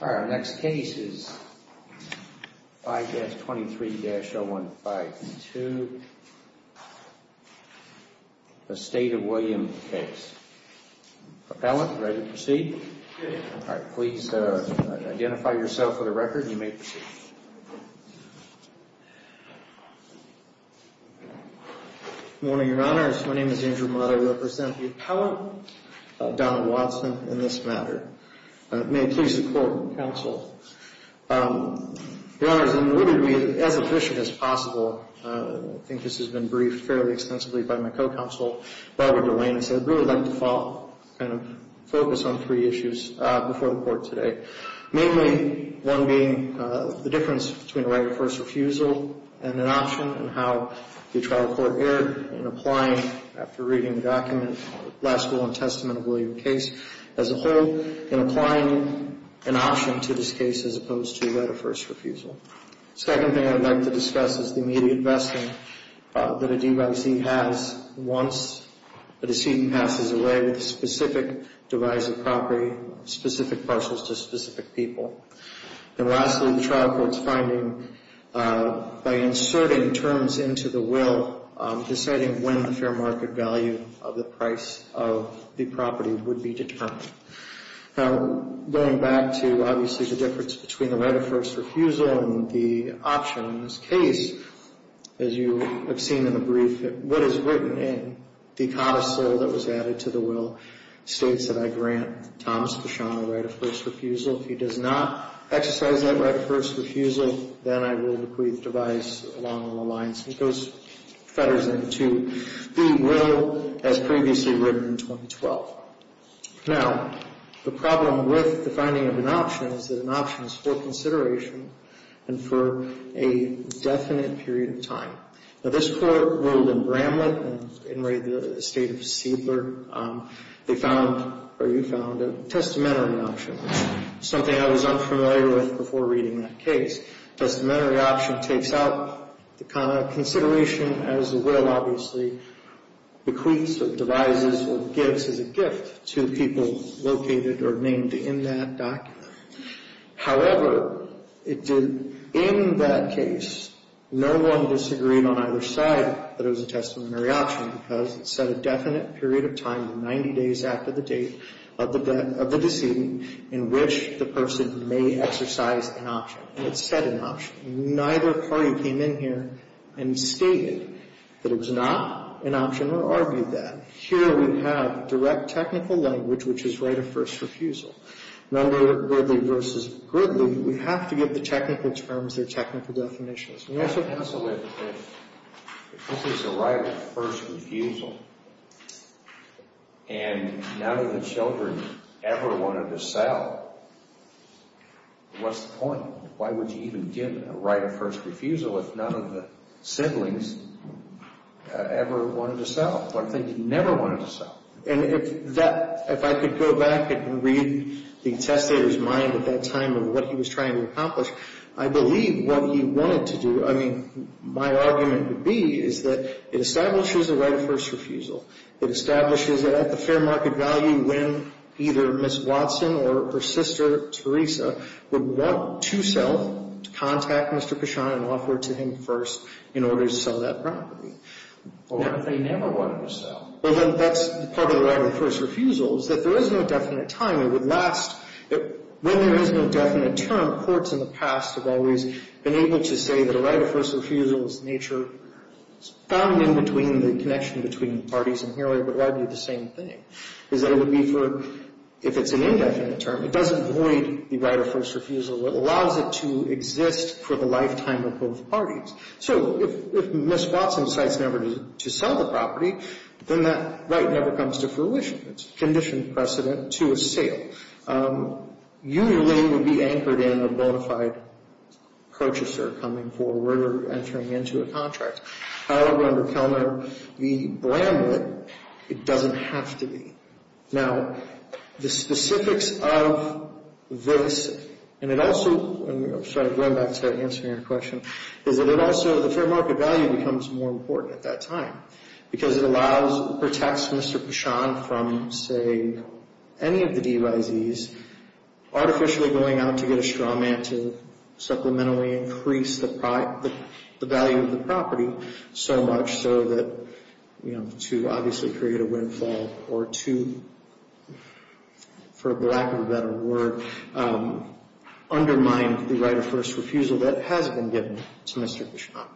Our next case is 5-23-0152, the State of Williams case. Appellant, ready to proceed? Please identify yourself for the record and you may proceed. Good morning, Your Honors. My name is Andrew Mott. I represent the appellant, Donald Watson, in this matter. May it please the Court, Counsel. Your Honors, in order to be as efficient as possible, I think this has been briefed fairly extensively by my co-counsel, Barbara Delaney, so I'd really like to kind of focus on three issues before the Court today. Mainly one being the difference between a right of first refusal and an option and how the trial court erred in applying, after reading the document, the last rule and testament of William case as a whole, in applying an option to this case as opposed to a right of first refusal. The second thing I'd like to discuss is the immediate vesting that a DVC has once a decedent passes away with specific divisive property, specific parcels to specific people. And lastly, the trial court's finding by inserting terms into the will, deciding when the fair market value of the price of the property would be determined. Now, going back to, obviously, the difference between the right of first refusal and the option in this case, as you have seen in the brief, what is written in the codicil that was added to the will states that I grant Thomas Bichon a right of first refusal. If he does not exercise that right of first refusal, then I will decree the device along the lines that goes fetters into the will as previously written in 2012. Now, the problem with the finding of an option is that an option is for consideration and for a definite period of time. Now, this court ruled in Bramlett and in the state of Seidler, they found or you found a testament of an option, something I was unfamiliar with before reading that case. Testamentary option takes out the consideration as the will, obviously, bequeaths or devises or gives as a gift to people located or named in that document. However, in that case, no one disagreed on either side that it was a testamentary option because it said a definite period of time, 90 days after the date of the decedent, in which the person may exercise an option. It said an option. Neither party came in here and stated that it was not an option or argued that. Here we have direct technical language, which is right of first refusal. None were goodly versus goodly. We have to give the technical terms their technical definitions. Counsel, if this is a right of first refusal and none of the children ever wanted to sell, what's the point? Why would you even give a right of first refusal if none of the siblings ever wanted to sell? What if they never wanted to sell? And if that, if I could go back and read the testator's mind at that time and what he was trying to accomplish, I believe what he wanted to do, I mean, my argument would be is that it establishes a right of first refusal. It establishes at the fair market value when either Ms. Watson or her sister, Teresa, would want to sell, contact Mr. Kashan and offer to him first in order to sell that property. What if they never wanted to sell? Well, then that's part of the right of first refusal is that there is no definite time. It would last. When there is no definite term, courts in the past have always been able to say that a right of first refusal is the nature found in between the connection between the parties inherently, but rightly the same thing, is that it would be for, if it's an indefinite term, it doesn't void the right of first refusal. It allows it to exist for the lifetime of both parties. So if Ms. Watson decides never to sell the property, then that right never comes to fruition. It's conditioned precedent to a sale. Usually it would be anchored in a bona fide purchaser coming forward or entering into a contract. However, under Kellner, the brand would, it doesn't have to be. Now, the specifics of this, and it also, sorry, going back to answering your question, is that it also, the fair market value becomes more important at that time because it allows, protects Mr. Pichon from, say, any of the DYZs, artificially going out to get a straw man to supplementally increase the value of the property so much so that, you know, to obviously create a windfall or to, for lack of a better word, undermine the right of first refusal that has been given to Mr. Pichon.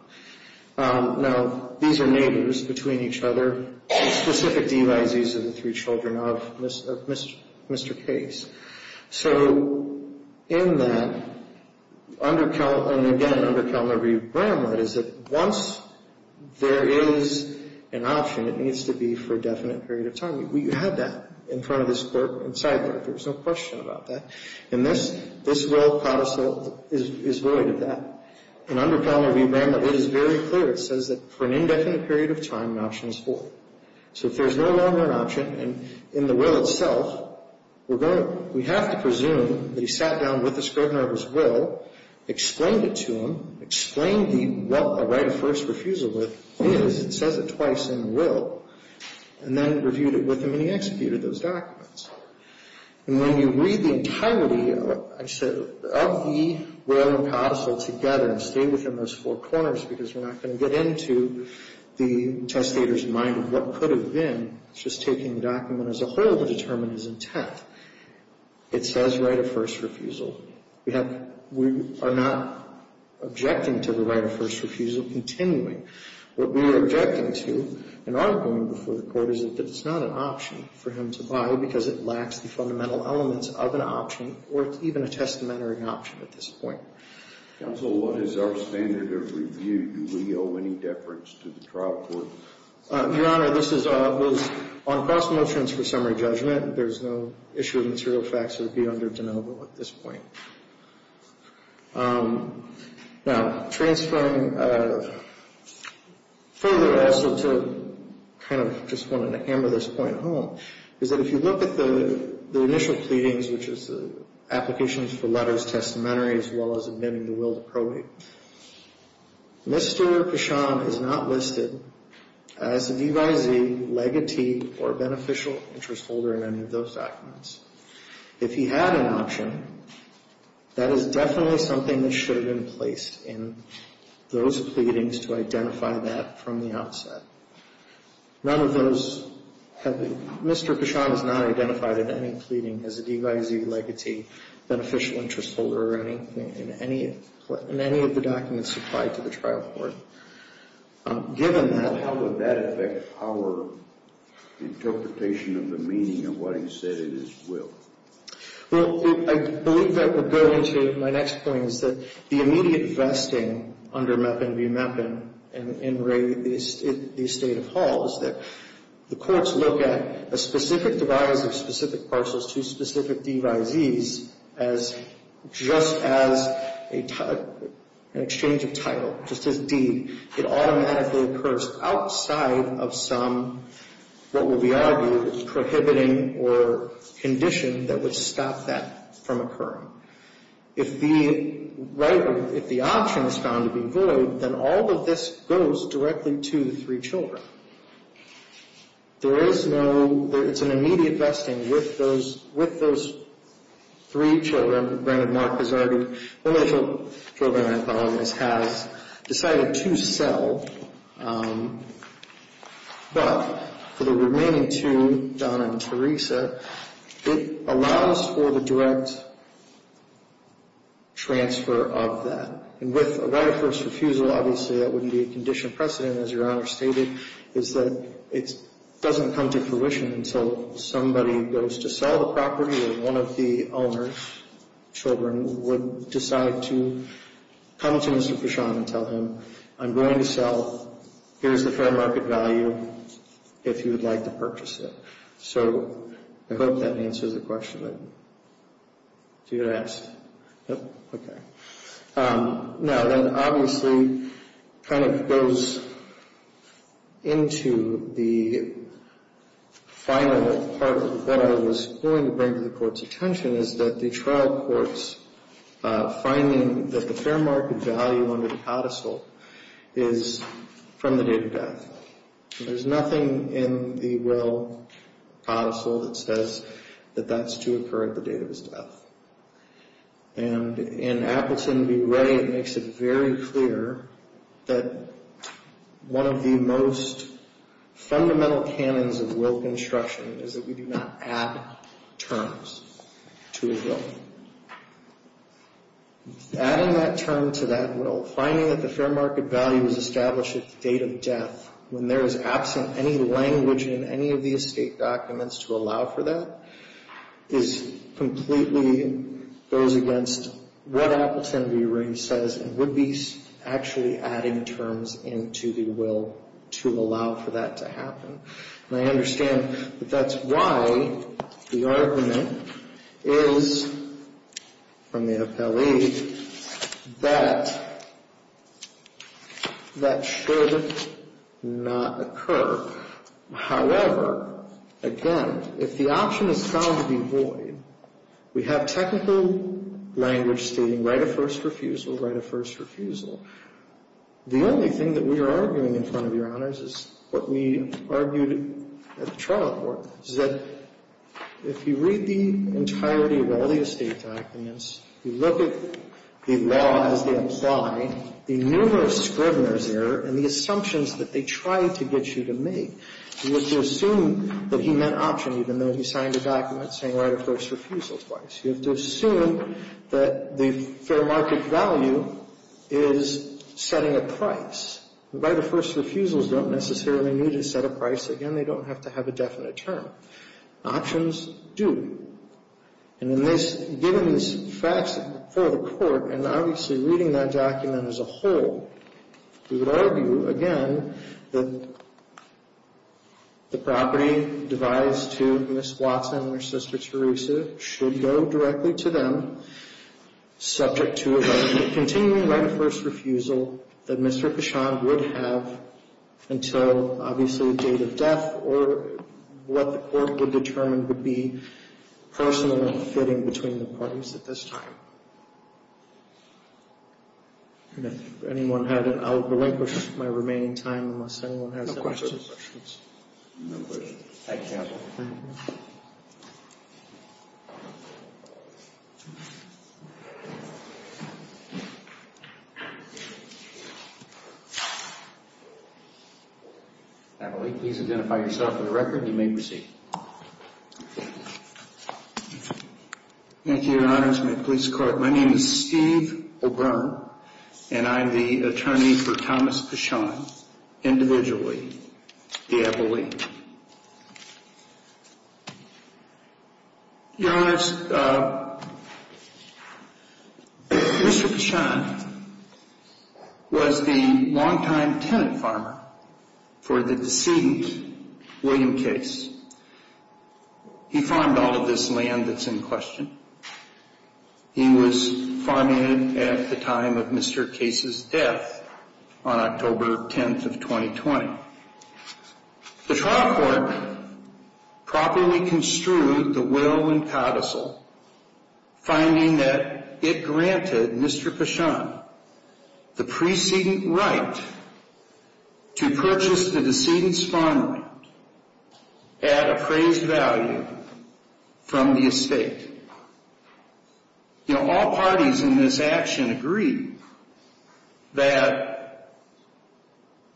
Now, these are neighbors between each other, specific DYZs of the three children of Mr. Case. So in that, under Kellner, and again, under Kellner v. Bramlett, is that once there is an option, it needs to be for a definite period of time. We had that in front of this court, inside there. There's no question about that. In this, this rule is void of that. And under Kellner v. Bramlett, it is very clear. It says that for an indefinite period of time, an option is void. So if there's no longer an option, and in the will itself, we're going to, we have to presume that he sat down with the Scrivener of his will, explained it to him, explained what a right of first refusal is, it says it twice in the will, and then reviewed it with him and he executed those documents. And when you read the entirety, I said, of the will and counsel together, and stay within those four corners, because we're not going to get into the testator's mind of what could have been. It's just taking the document as a whole to determine his intent. It says right of first refusal. We have, we are not objecting to the right of first refusal continuing. It's not an option for him to buy, because it lacks the fundamental elements of an option, or it's even a testamentary option at this point. Counsel, what is our standard of review? Do we owe any deference to the trial court? Your Honor, this is on cost of no transfer summary judgment. There's no issue of material facts that would be under de novo at this point. Now, transferring further also to kind of just wanted to hammer this point home, is that if you look at the initial pleadings, which is the applications for letters, testamentary, as well as admitting the will to probate, Mr. Kashan is not listed as a DVIZ, legatee, or beneficial interest holder in any of those documents. If he had an option, that is definitely something that should have been placed in those pleadings to identify that from the outset. None of those have been. Mr. Kashan is not identified in any pleading as a DVIZ, legatee, beneficial interest holder in any of the documents supplied to the trial court. Given that, how would that affect our interpretation of the meaning of what he said in his will? Well, I believe that would go into my next point, is that the immediate vesting under MEPIN v. MEPIN in Ray, the estate of Hall, is that the courts look at a specific device of specific parcels to specific DVIZs just as an exchange of title, just as D. It automatically occurs outside of some, what would be argued, prohibiting or condition that would stop that from occurring. If the option is found to be void, then all of this goes directly to the three children. There is no, it's an immediate vesting with those three children. Granted, Mark has already, one of the children I apologize, has decided to sell. But for the remaining two, Donna and Teresa, it allows for the direct transfer of that. And with a right of first refusal, obviously that wouldn't be a condition of precedent, as Your Honor stated, is that it doesn't come to fruition until somebody goes to sell the property and one of the owners' children would decide to come to Mr. Pichon and tell him, I'm going to sell. Here's the fair market value if you would like to purchase it. So I hope that answers the question that you had asked. Okay. Now, then obviously kind of goes into the final part of what I was going to bring to the Court's attention is that the trial court's finding that the fair market value under the codicil is from the date of death. There's nothing in the Will codicil that says that that's to occur at the date of his death. And in Appleton v. Ray, it makes it very clear that one of the most fundamental canons of Will construction is that we do not add terms to a Will. Adding that term to that Will, finding that the fair market value is established at the date of death, when there is absent any language in any of the estate documents to allow for that, is completely goes against what Appleton v. Ray says and would be actually adding terms into the Will to allow for that to happen. And I understand that that's why the argument is from the appellee that that should not occur. However, again, if the option is found to be void, we have technical language stating write a first refusal, write a first refusal. The only thing that we are arguing in front of Your Honors is what we argued at the trial court, is that if you read the entirety of all the estate documents, you look at the laws they apply, the numerous scriveners there, and the assumptions that they try to get you to make, you have to assume that he meant option even though he signed a document saying write a first refusal twice. You have to assume that the fair market value is setting a price. Write a first refusal doesn't necessarily need to set a price. Again, they don't have to have a definite term. Options do. And in this, given these facts before the court, and obviously reading that document as a whole, we would argue, again, that the property devised to Ms. Watson and her sister Teresa should go directly to them, subject to a writing of continuing write a first refusal that Mr. Cashon would have until, obviously, the date of death or what the court would determine would be personal and fitting between the parties at this time. If anyone had it, I will relinquish my remaining time unless anyone has any further questions. No questions. Thank you, Your Honor. Thank you. Natalie, please identify yourself for the record and you may proceed. Thank you, Your Honors. My name is Steve O'Byrne, and I am the attorney for Thomas Cashon, individually, the abolete. Your Honors, Mr. Cashon was the longtime tenant farmer for the decedent William Case. He farmed all of this land that's in question. He was farming it at the time of Mr. Case's death on October 10th of 2020. The trial court properly construed the will and codicil, finding that it granted Mr. Cashon the preceding right to purchase the decedent's farmland at appraised value from the estate. You know, all parties in this action agree that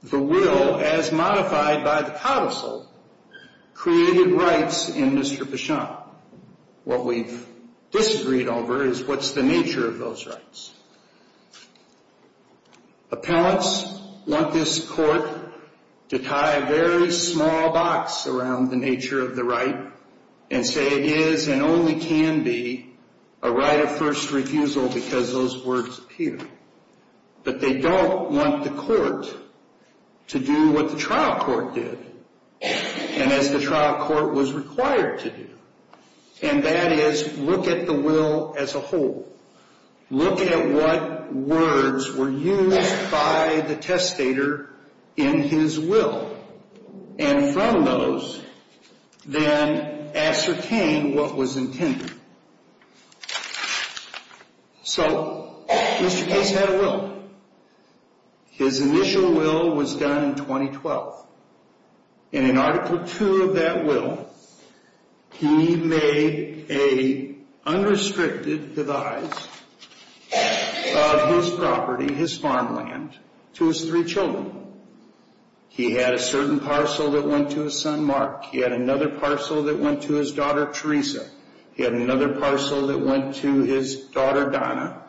the will, as modified by the codicil, created rights in Mr. Cashon. What we've disagreed over is what's the nature of those rights. Appellants want this court to tie a very small box around the nature of the right and say it is and only can be a right of first refusal because those words appear. But they don't want the court to do what the trial court did and as the trial court was required to do, and that is look at the will as a whole. Look at what words were used by the testator in his will, and from those then ascertain what was intended. So Mr. Case had a will. And in Article 2 of that will, he made a unrestricted devise of his property, his farmland, to his three children. He had a certain parcel that went to his son, Mark. He had another parcel that went to his daughter, Teresa. He had another parcel that went to his daughter, Donna.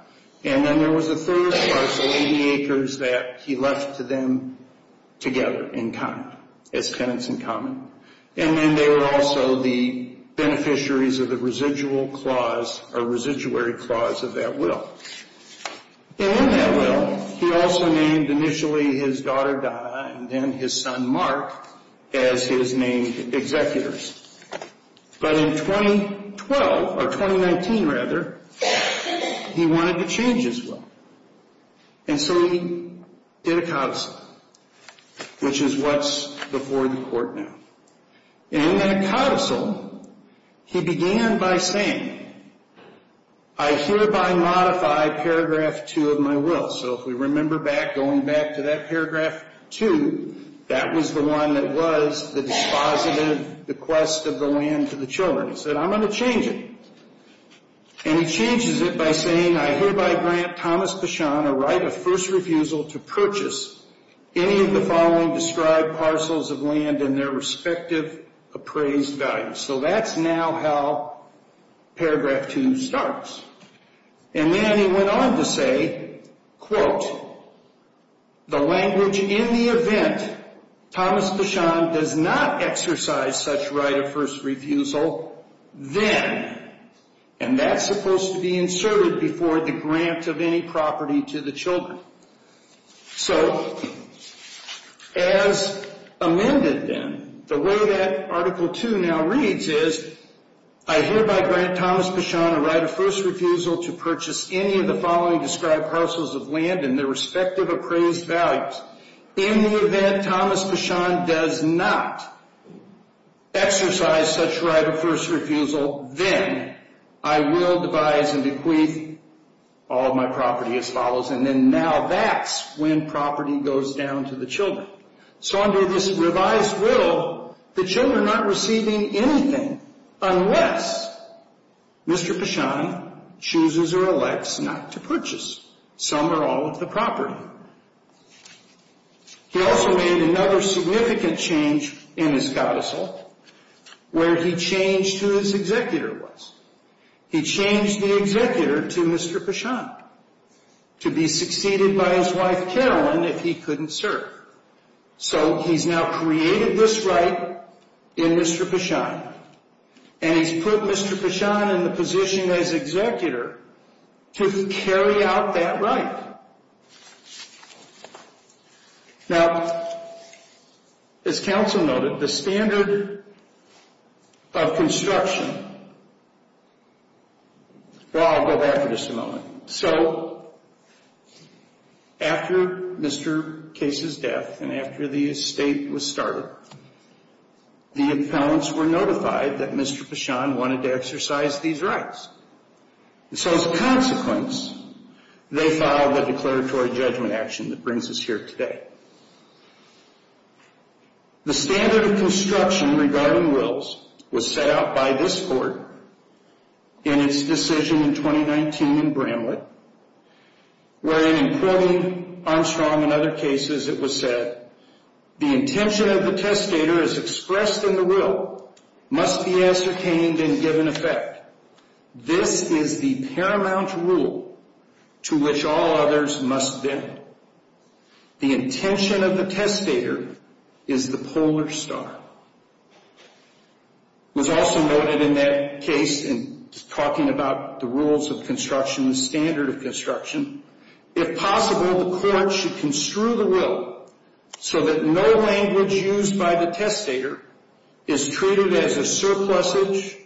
And then there was a third parcel, 80 acres, that he left to them together in common, as tenants in common. And then they were also the beneficiaries of the residual clause or residuary clause of that will. And in that will, he also named initially his daughter, Donna, and then his son, Mark, as his named executors. But in 2012, or 2019 rather, he wanted to change his will. And so he did a codicil, which is what's before the court now. And in that codicil, he began by saying, I hereby modify Paragraph 2 of my will. So if we remember back, going back to that Paragraph 2, that was the one that was the dispositive, the quest of the land to the children. He said, I'm going to change it. And he changes it by saying, I hereby grant Thomas Bichon a right of first refusal to purchase any of the following described parcels of land in their respective appraised value. So that's now how Paragraph 2 starts. And then he went on to say, quote, the language in the event Thomas Bichon does not exercise such right of first refusal, then, and that's supposed to be inserted before the grant of any property to the children. So, as amended then, the way that Article 2 now reads is, I hereby grant Thomas Bichon a right of first refusal to purchase any of the following described parcels of land in their respective appraised values. In the event Thomas Bichon does not exercise such right of first refusal, then, I will devise and bequeath all of my property as follows. And then now that's when property goes down to the children. So under this revised will, the children aren't receiving anything unless Mr. Bichon chooses or elects not to purchase some or all of the property. He also made another significant change in his codicil where he changed who his executor was. He changed the executor to Mr. Bichon to be succeeded by his wife Carolyn if he couldn't serve. So he's now created this right in Mr. Bichon. And he's put Mr. Bichon in the position as executor to carry out that right. Now, as counsel noted, the standard of construction, well, I'll go back for just a moment. So, after Mr. Case's death and after the estate was started, the appellants were notified that Mr. Bichon wanted to exercise these rights. And so, as a consequence, they filed the declaratory judgment action that brings us here today. The standard of construction regarding wills was set out by this court in its decision in 2019 in Bramlett, wherein, in quoting Armstrong and other cases, it was said, the intention of the testator as expressed in the will must be ascertained and given effect. This is the paramount rule to which all others must bend. The intention of the testator is the polar star. It was also noted in that case in talking about the rules of construction, the standard of construction, if possible, the court should construe the will so that no language used by the testator is treated as a surplusage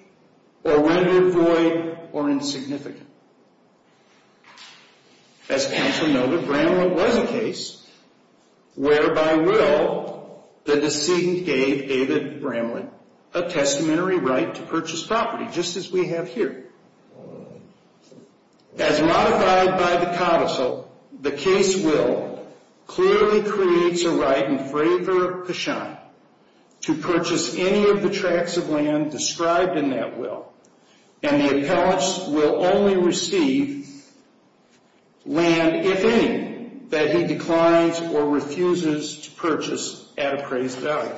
or rendered void or insignificant. As counsel noted, Bramlett was a case where, by will, the decedent gave David Bramlett a testamentary right to purchase property, just as we have here. As modified by the counsel, the case will clearly creates a right in fravor of Bichon to purchase any of the tracts of land described in that will, and the appellant will only receive land, if any, that he declines or refuses to purchase at appraised value.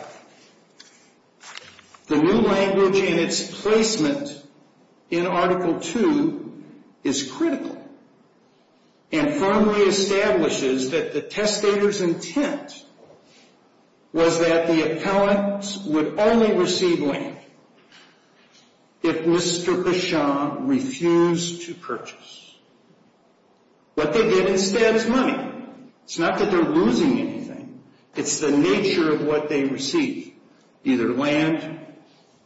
The new language in its placement in Article II is critical and firmly establishes that the testator's intent was that the appellant would only receive land if Mr. Bichon refused to purchase. What they get instead is money. It's not that they're losing anything. It's the nature of what they receive, either land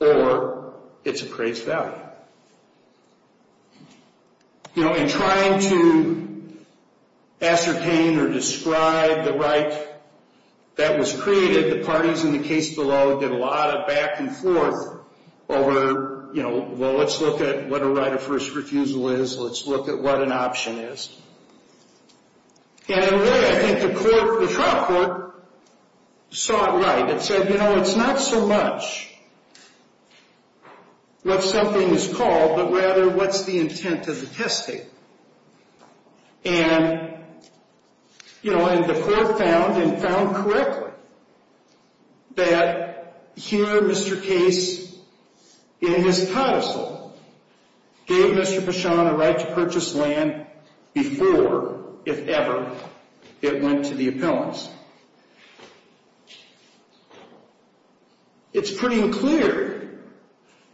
or its appraised value. In trying to ascertain or describe the right that was created, the parties in the case below did a lot of back and forth over, you know, well, let's look at what a right of first refusal is. Let's look at what an option is. And in a way, I think the court, the trial court, saw it right. It said, you know, it's not so much what something is called, but rather what's the intent of the testator. And, you know, and the court found and found correctly that here, Mr. Case, in his codicil, gave Mr. Bichon a right to purchase land before, if ever, it went to the appellants. It's pretty clear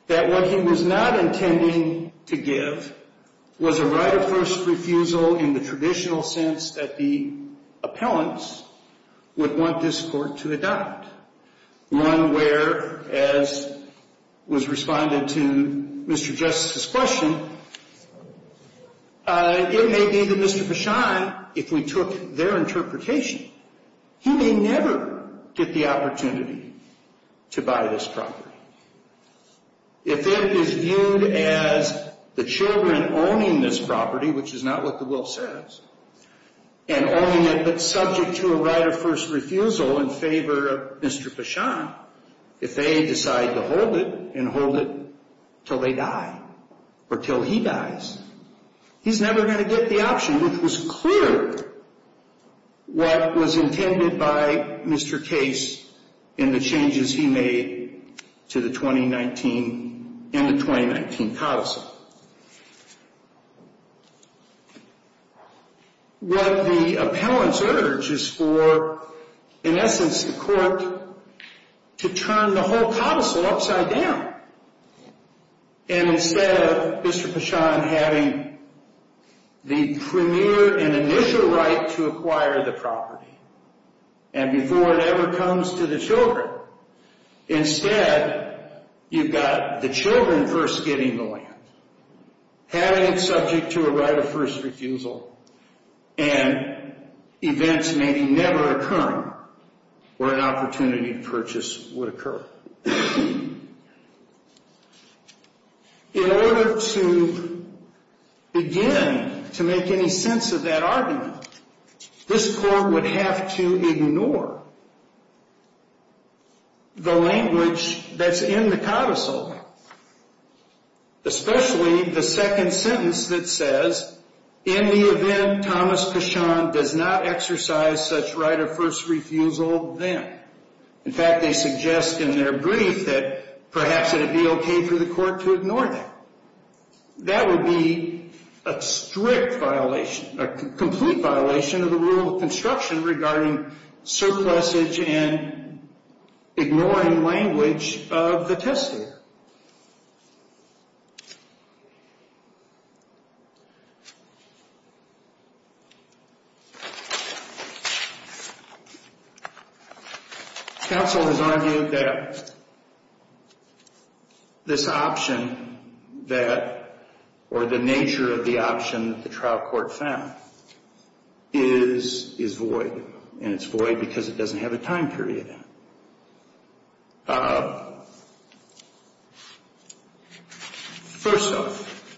that what he was not intending to give was a right of first refusal in the traditional sense that the appellants would want this court to adopt. One where, as was responded to Mr. Justice's question, it may be that Mr. Bichon, if we took their interpretation, he may never get the opportunity to buy this property. If it is viewed as the children owning this property, which is not what the will says, and owning it but subject to a right of first refusal in favor of Mr. Bichon, if they decide to hold it and hold it till they die or till he dies, he's never going to get the option, which was clear what was intended by Mr. Case in the changes he made to the 2019, in the 2019 codicil. What the appellants urge is for, in essence, the court to turn the whole codicil upside down and instead of Mr. Bichon having the premier and initial right to acquire the property and before it ever comes to the children, instead you've got the children first getting the land, having it subject to a right of first refusal, and events maybe never occurring where an opportunity to purchase would occur. In order to begin to make any sense of that argument, this court would have to ignore the language that's in the codicil, especially the second sentence that says, in the event Thomas Bichon does not exercise such right of first refusal then. In fact, they suggest in their brief that perhaps it would be okay for the court to ignore that. That would be a strict violation, a complete violation of the rule of construction regarding surplusage and ignoring language of the testator. Counsel has argued that this option that, or the nature of the option that the trial court found is void, and it's void because it doesn't have a time period in it. First off,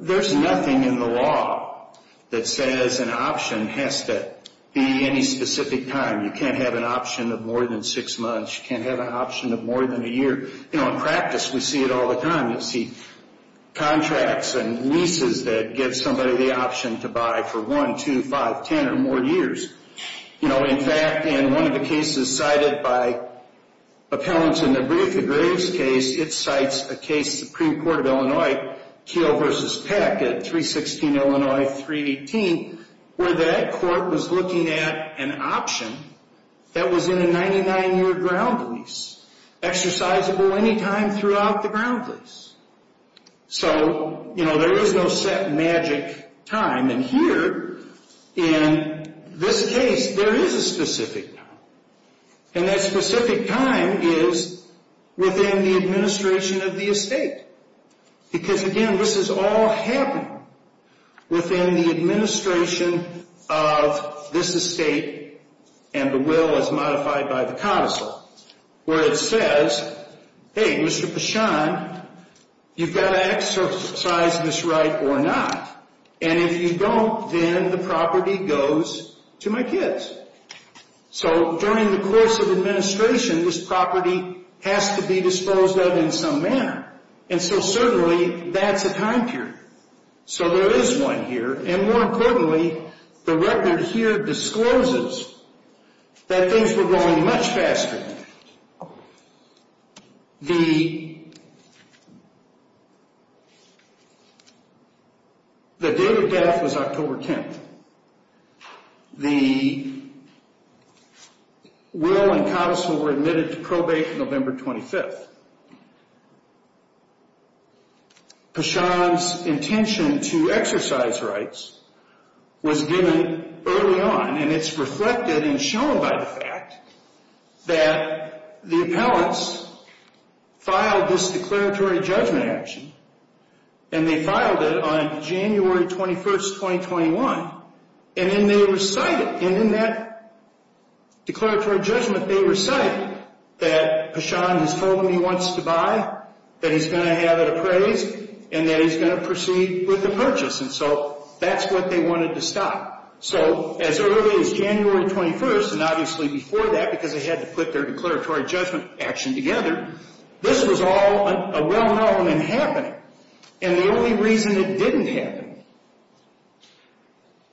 there's nothing in the law that says an option has to be any specific time. You can't have an option of more than six months. You can't have an option of more than a year. In practice, we see it all the time. You'll see contracts and leases that give somebody the option to buy for one, two, five, ten, or more years. In fact, in one of the cases cited by appellants in the brief, the Graves case, it cites a case, Supreme Court of Illinois, Keough v. Peck at 316 Illinois 318, where that court was looking at an option that was in a 99-year ground lease, exercisable any time throughout the ground lease. So, you know, there is no set magic time. And here, in this case, there is a specific time. And that specific time is within the administration of the estate. Because, again, this is all happening within the administration of this estate, and the will is modified by the counsel, where it says, hey, Mr. Pashan, you've got to exercise this right or not. And if you don't, then the property goes to my kids. So, during the course of administration, this property has to be disposed of in some manner. And so, certainly, that's a time period. So, there is one here. And more importantly, the record here discloses that things were going much faster. The date of death was October 10th. The will and counsel were admitted to probate November 25th. Pashan's intention to exercise rights was given early on. And it's reflected and shown by the fact that the appellants filed this declaratory judgment action. And they filed it on January 21st, 2021. And then they recited. And in that declaratory judgment, they recited that Pashan has told him he wants to buy, that he's going to have it appraised, and that he's going to proceed with the purchase. And so, that's what they wanted to stop. So, as early as January 21st, and obviously before that, because they had to put their declaratory judgment action together, this was all a well-known and happening. And the only reason it didn't happen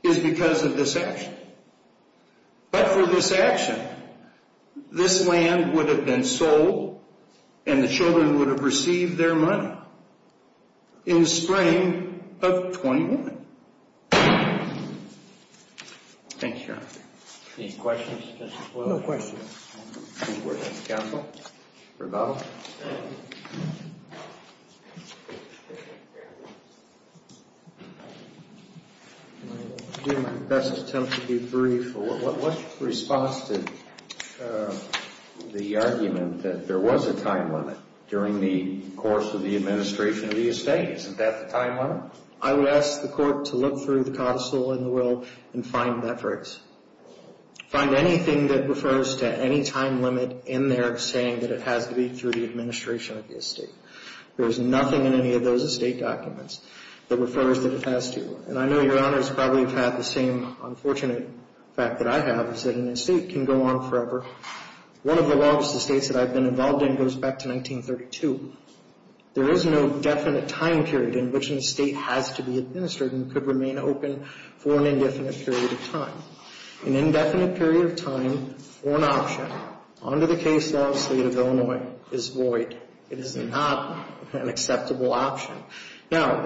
is because of this action. But for this action, this land would have been sold, and the children would have received their money in the spring of 2021. Thank you, Your Honor. Any questions? No questions. Counsel, rebuttal. I'll do my best attempt to be brief. What's your response to the argument that there was a time limit during the course of the administration of the estate? Isn't that the time limit? I would ask the court to look through the counsel and the will and find metrics. Find anything that refers to any time limit in there saying that it has to be through the administration of the estate. There's nothing in any of those estate documents that refers that it has to. And I know, Your Honor, it's probably about the same unfortunate fact that I have, is that an estate can go on forever. One of the laws of the states that I've been involved in goes back to 1932. There is no definite time period in which an estate has to be administered and could remain open for an indefinite period of time. An indefinite period of time for an option under the case law of the state of Illinois is void. It is not an acceptable option. Now,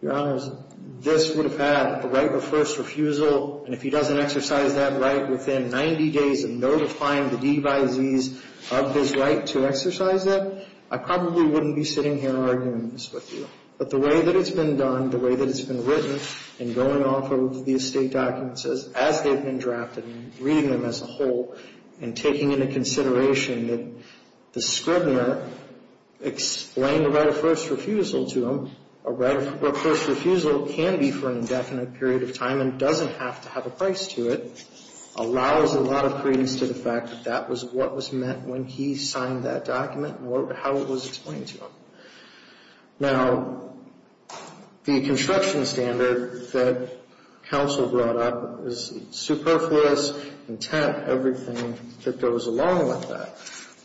Your Honor, this would have had the right of first refusal, and if he doesn't exercise that right within 90 days of notifying the devisees of his right to exercise that, I probably wouldn't be sitting here arguing this with you. But the way that it's been done, the way that it's been written and going off of the estate documents as they've been drafted and reading them as a whole and taking into consideration that the scrivener explained the right of first refusal to him, a right of first refusal can be for an indefinite period of time and doesn't have to have a price to it, allows a lot of credence to the fact that that was what was meant when he signed that document and how it was explained to him. Now, the construction standard that counsel brought up is superfluous, intent, everything that goes along with that.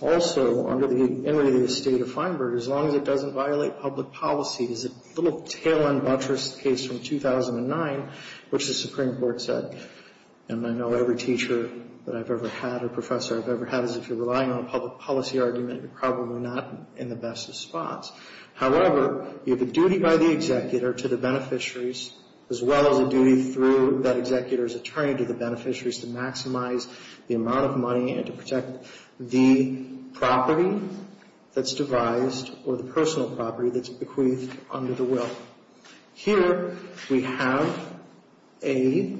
Also, under the entity of the state of Feinberg, as long as it doesn't violate public policy, is a little tail-end buttress case from 2009, which the Supreme Court said, and I know every teacher that I've ever had or professor I've ever had, is if you're relying on a public policy argument, you're probably not in the best of spots. However, you have a duty by the executor to the beneficiaries, as well as a duty through that executor's attorney to the beneficiaries to maximize the amount of money and to protect the property that's devised or the personal property that's bequeathed under the will. Here we have a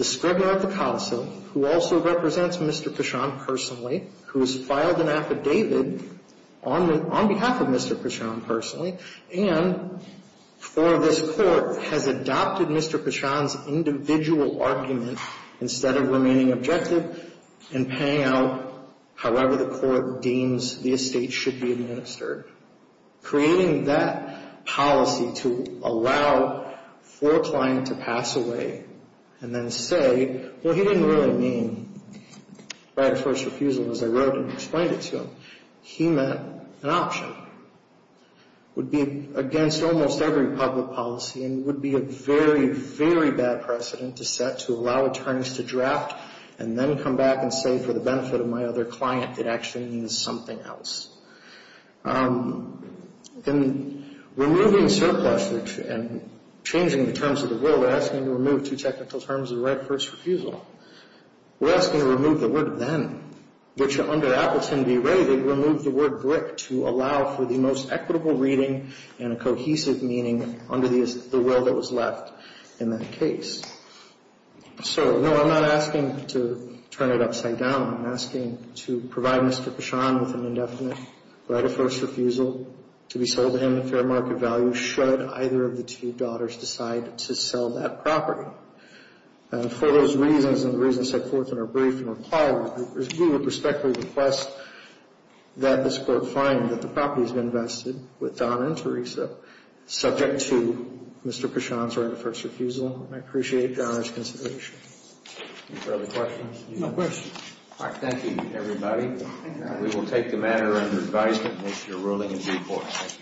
scrivener at the counsel who also represents Mr. Pichon personally, who has filed an affidavit on behalf of Mr. Pichon personally, and for this court, has adopted Mr. Pichon's individual argument instead of remaining objective and paying out however the court deems the estate should be administered, creating that policy to allow for a client to pass away and then say, well, he didn't really mean right of first refusal as I wrote and explained it to him. He meant an option. It would be against almost every public policy and would be a very, very bad precedent to set to allow attorneys to draft and then come back and say, for the benefit of my other client, it actually means something else. In removing surplus and changing the terms of the will, we're asking to remove two technical terms of right of first refusal. We're asking to remove the word then, which under Appleton v. Ray, they removed the word brick to allow for the most equitable reading and a cohesive meaning under the will that was left in that case. So, no, I'm not asking to turn it upside down. I'm asking to provide Mr. Pichon with an indefinite right of first refusal to be sold to him at fair market value should either of the two daughters decide to sell that property. For those reasons and the reasons set forth in our brief, we would respectfully request that this court find that the property has been vested with Donna and Teresa, subject to Mr. Pichon's right of first refusal. And I appreciate your honor's consideration. Are there other questions? No questions. All right, thank you, everybody. We will take the matter under advisement once you're ruling in due course.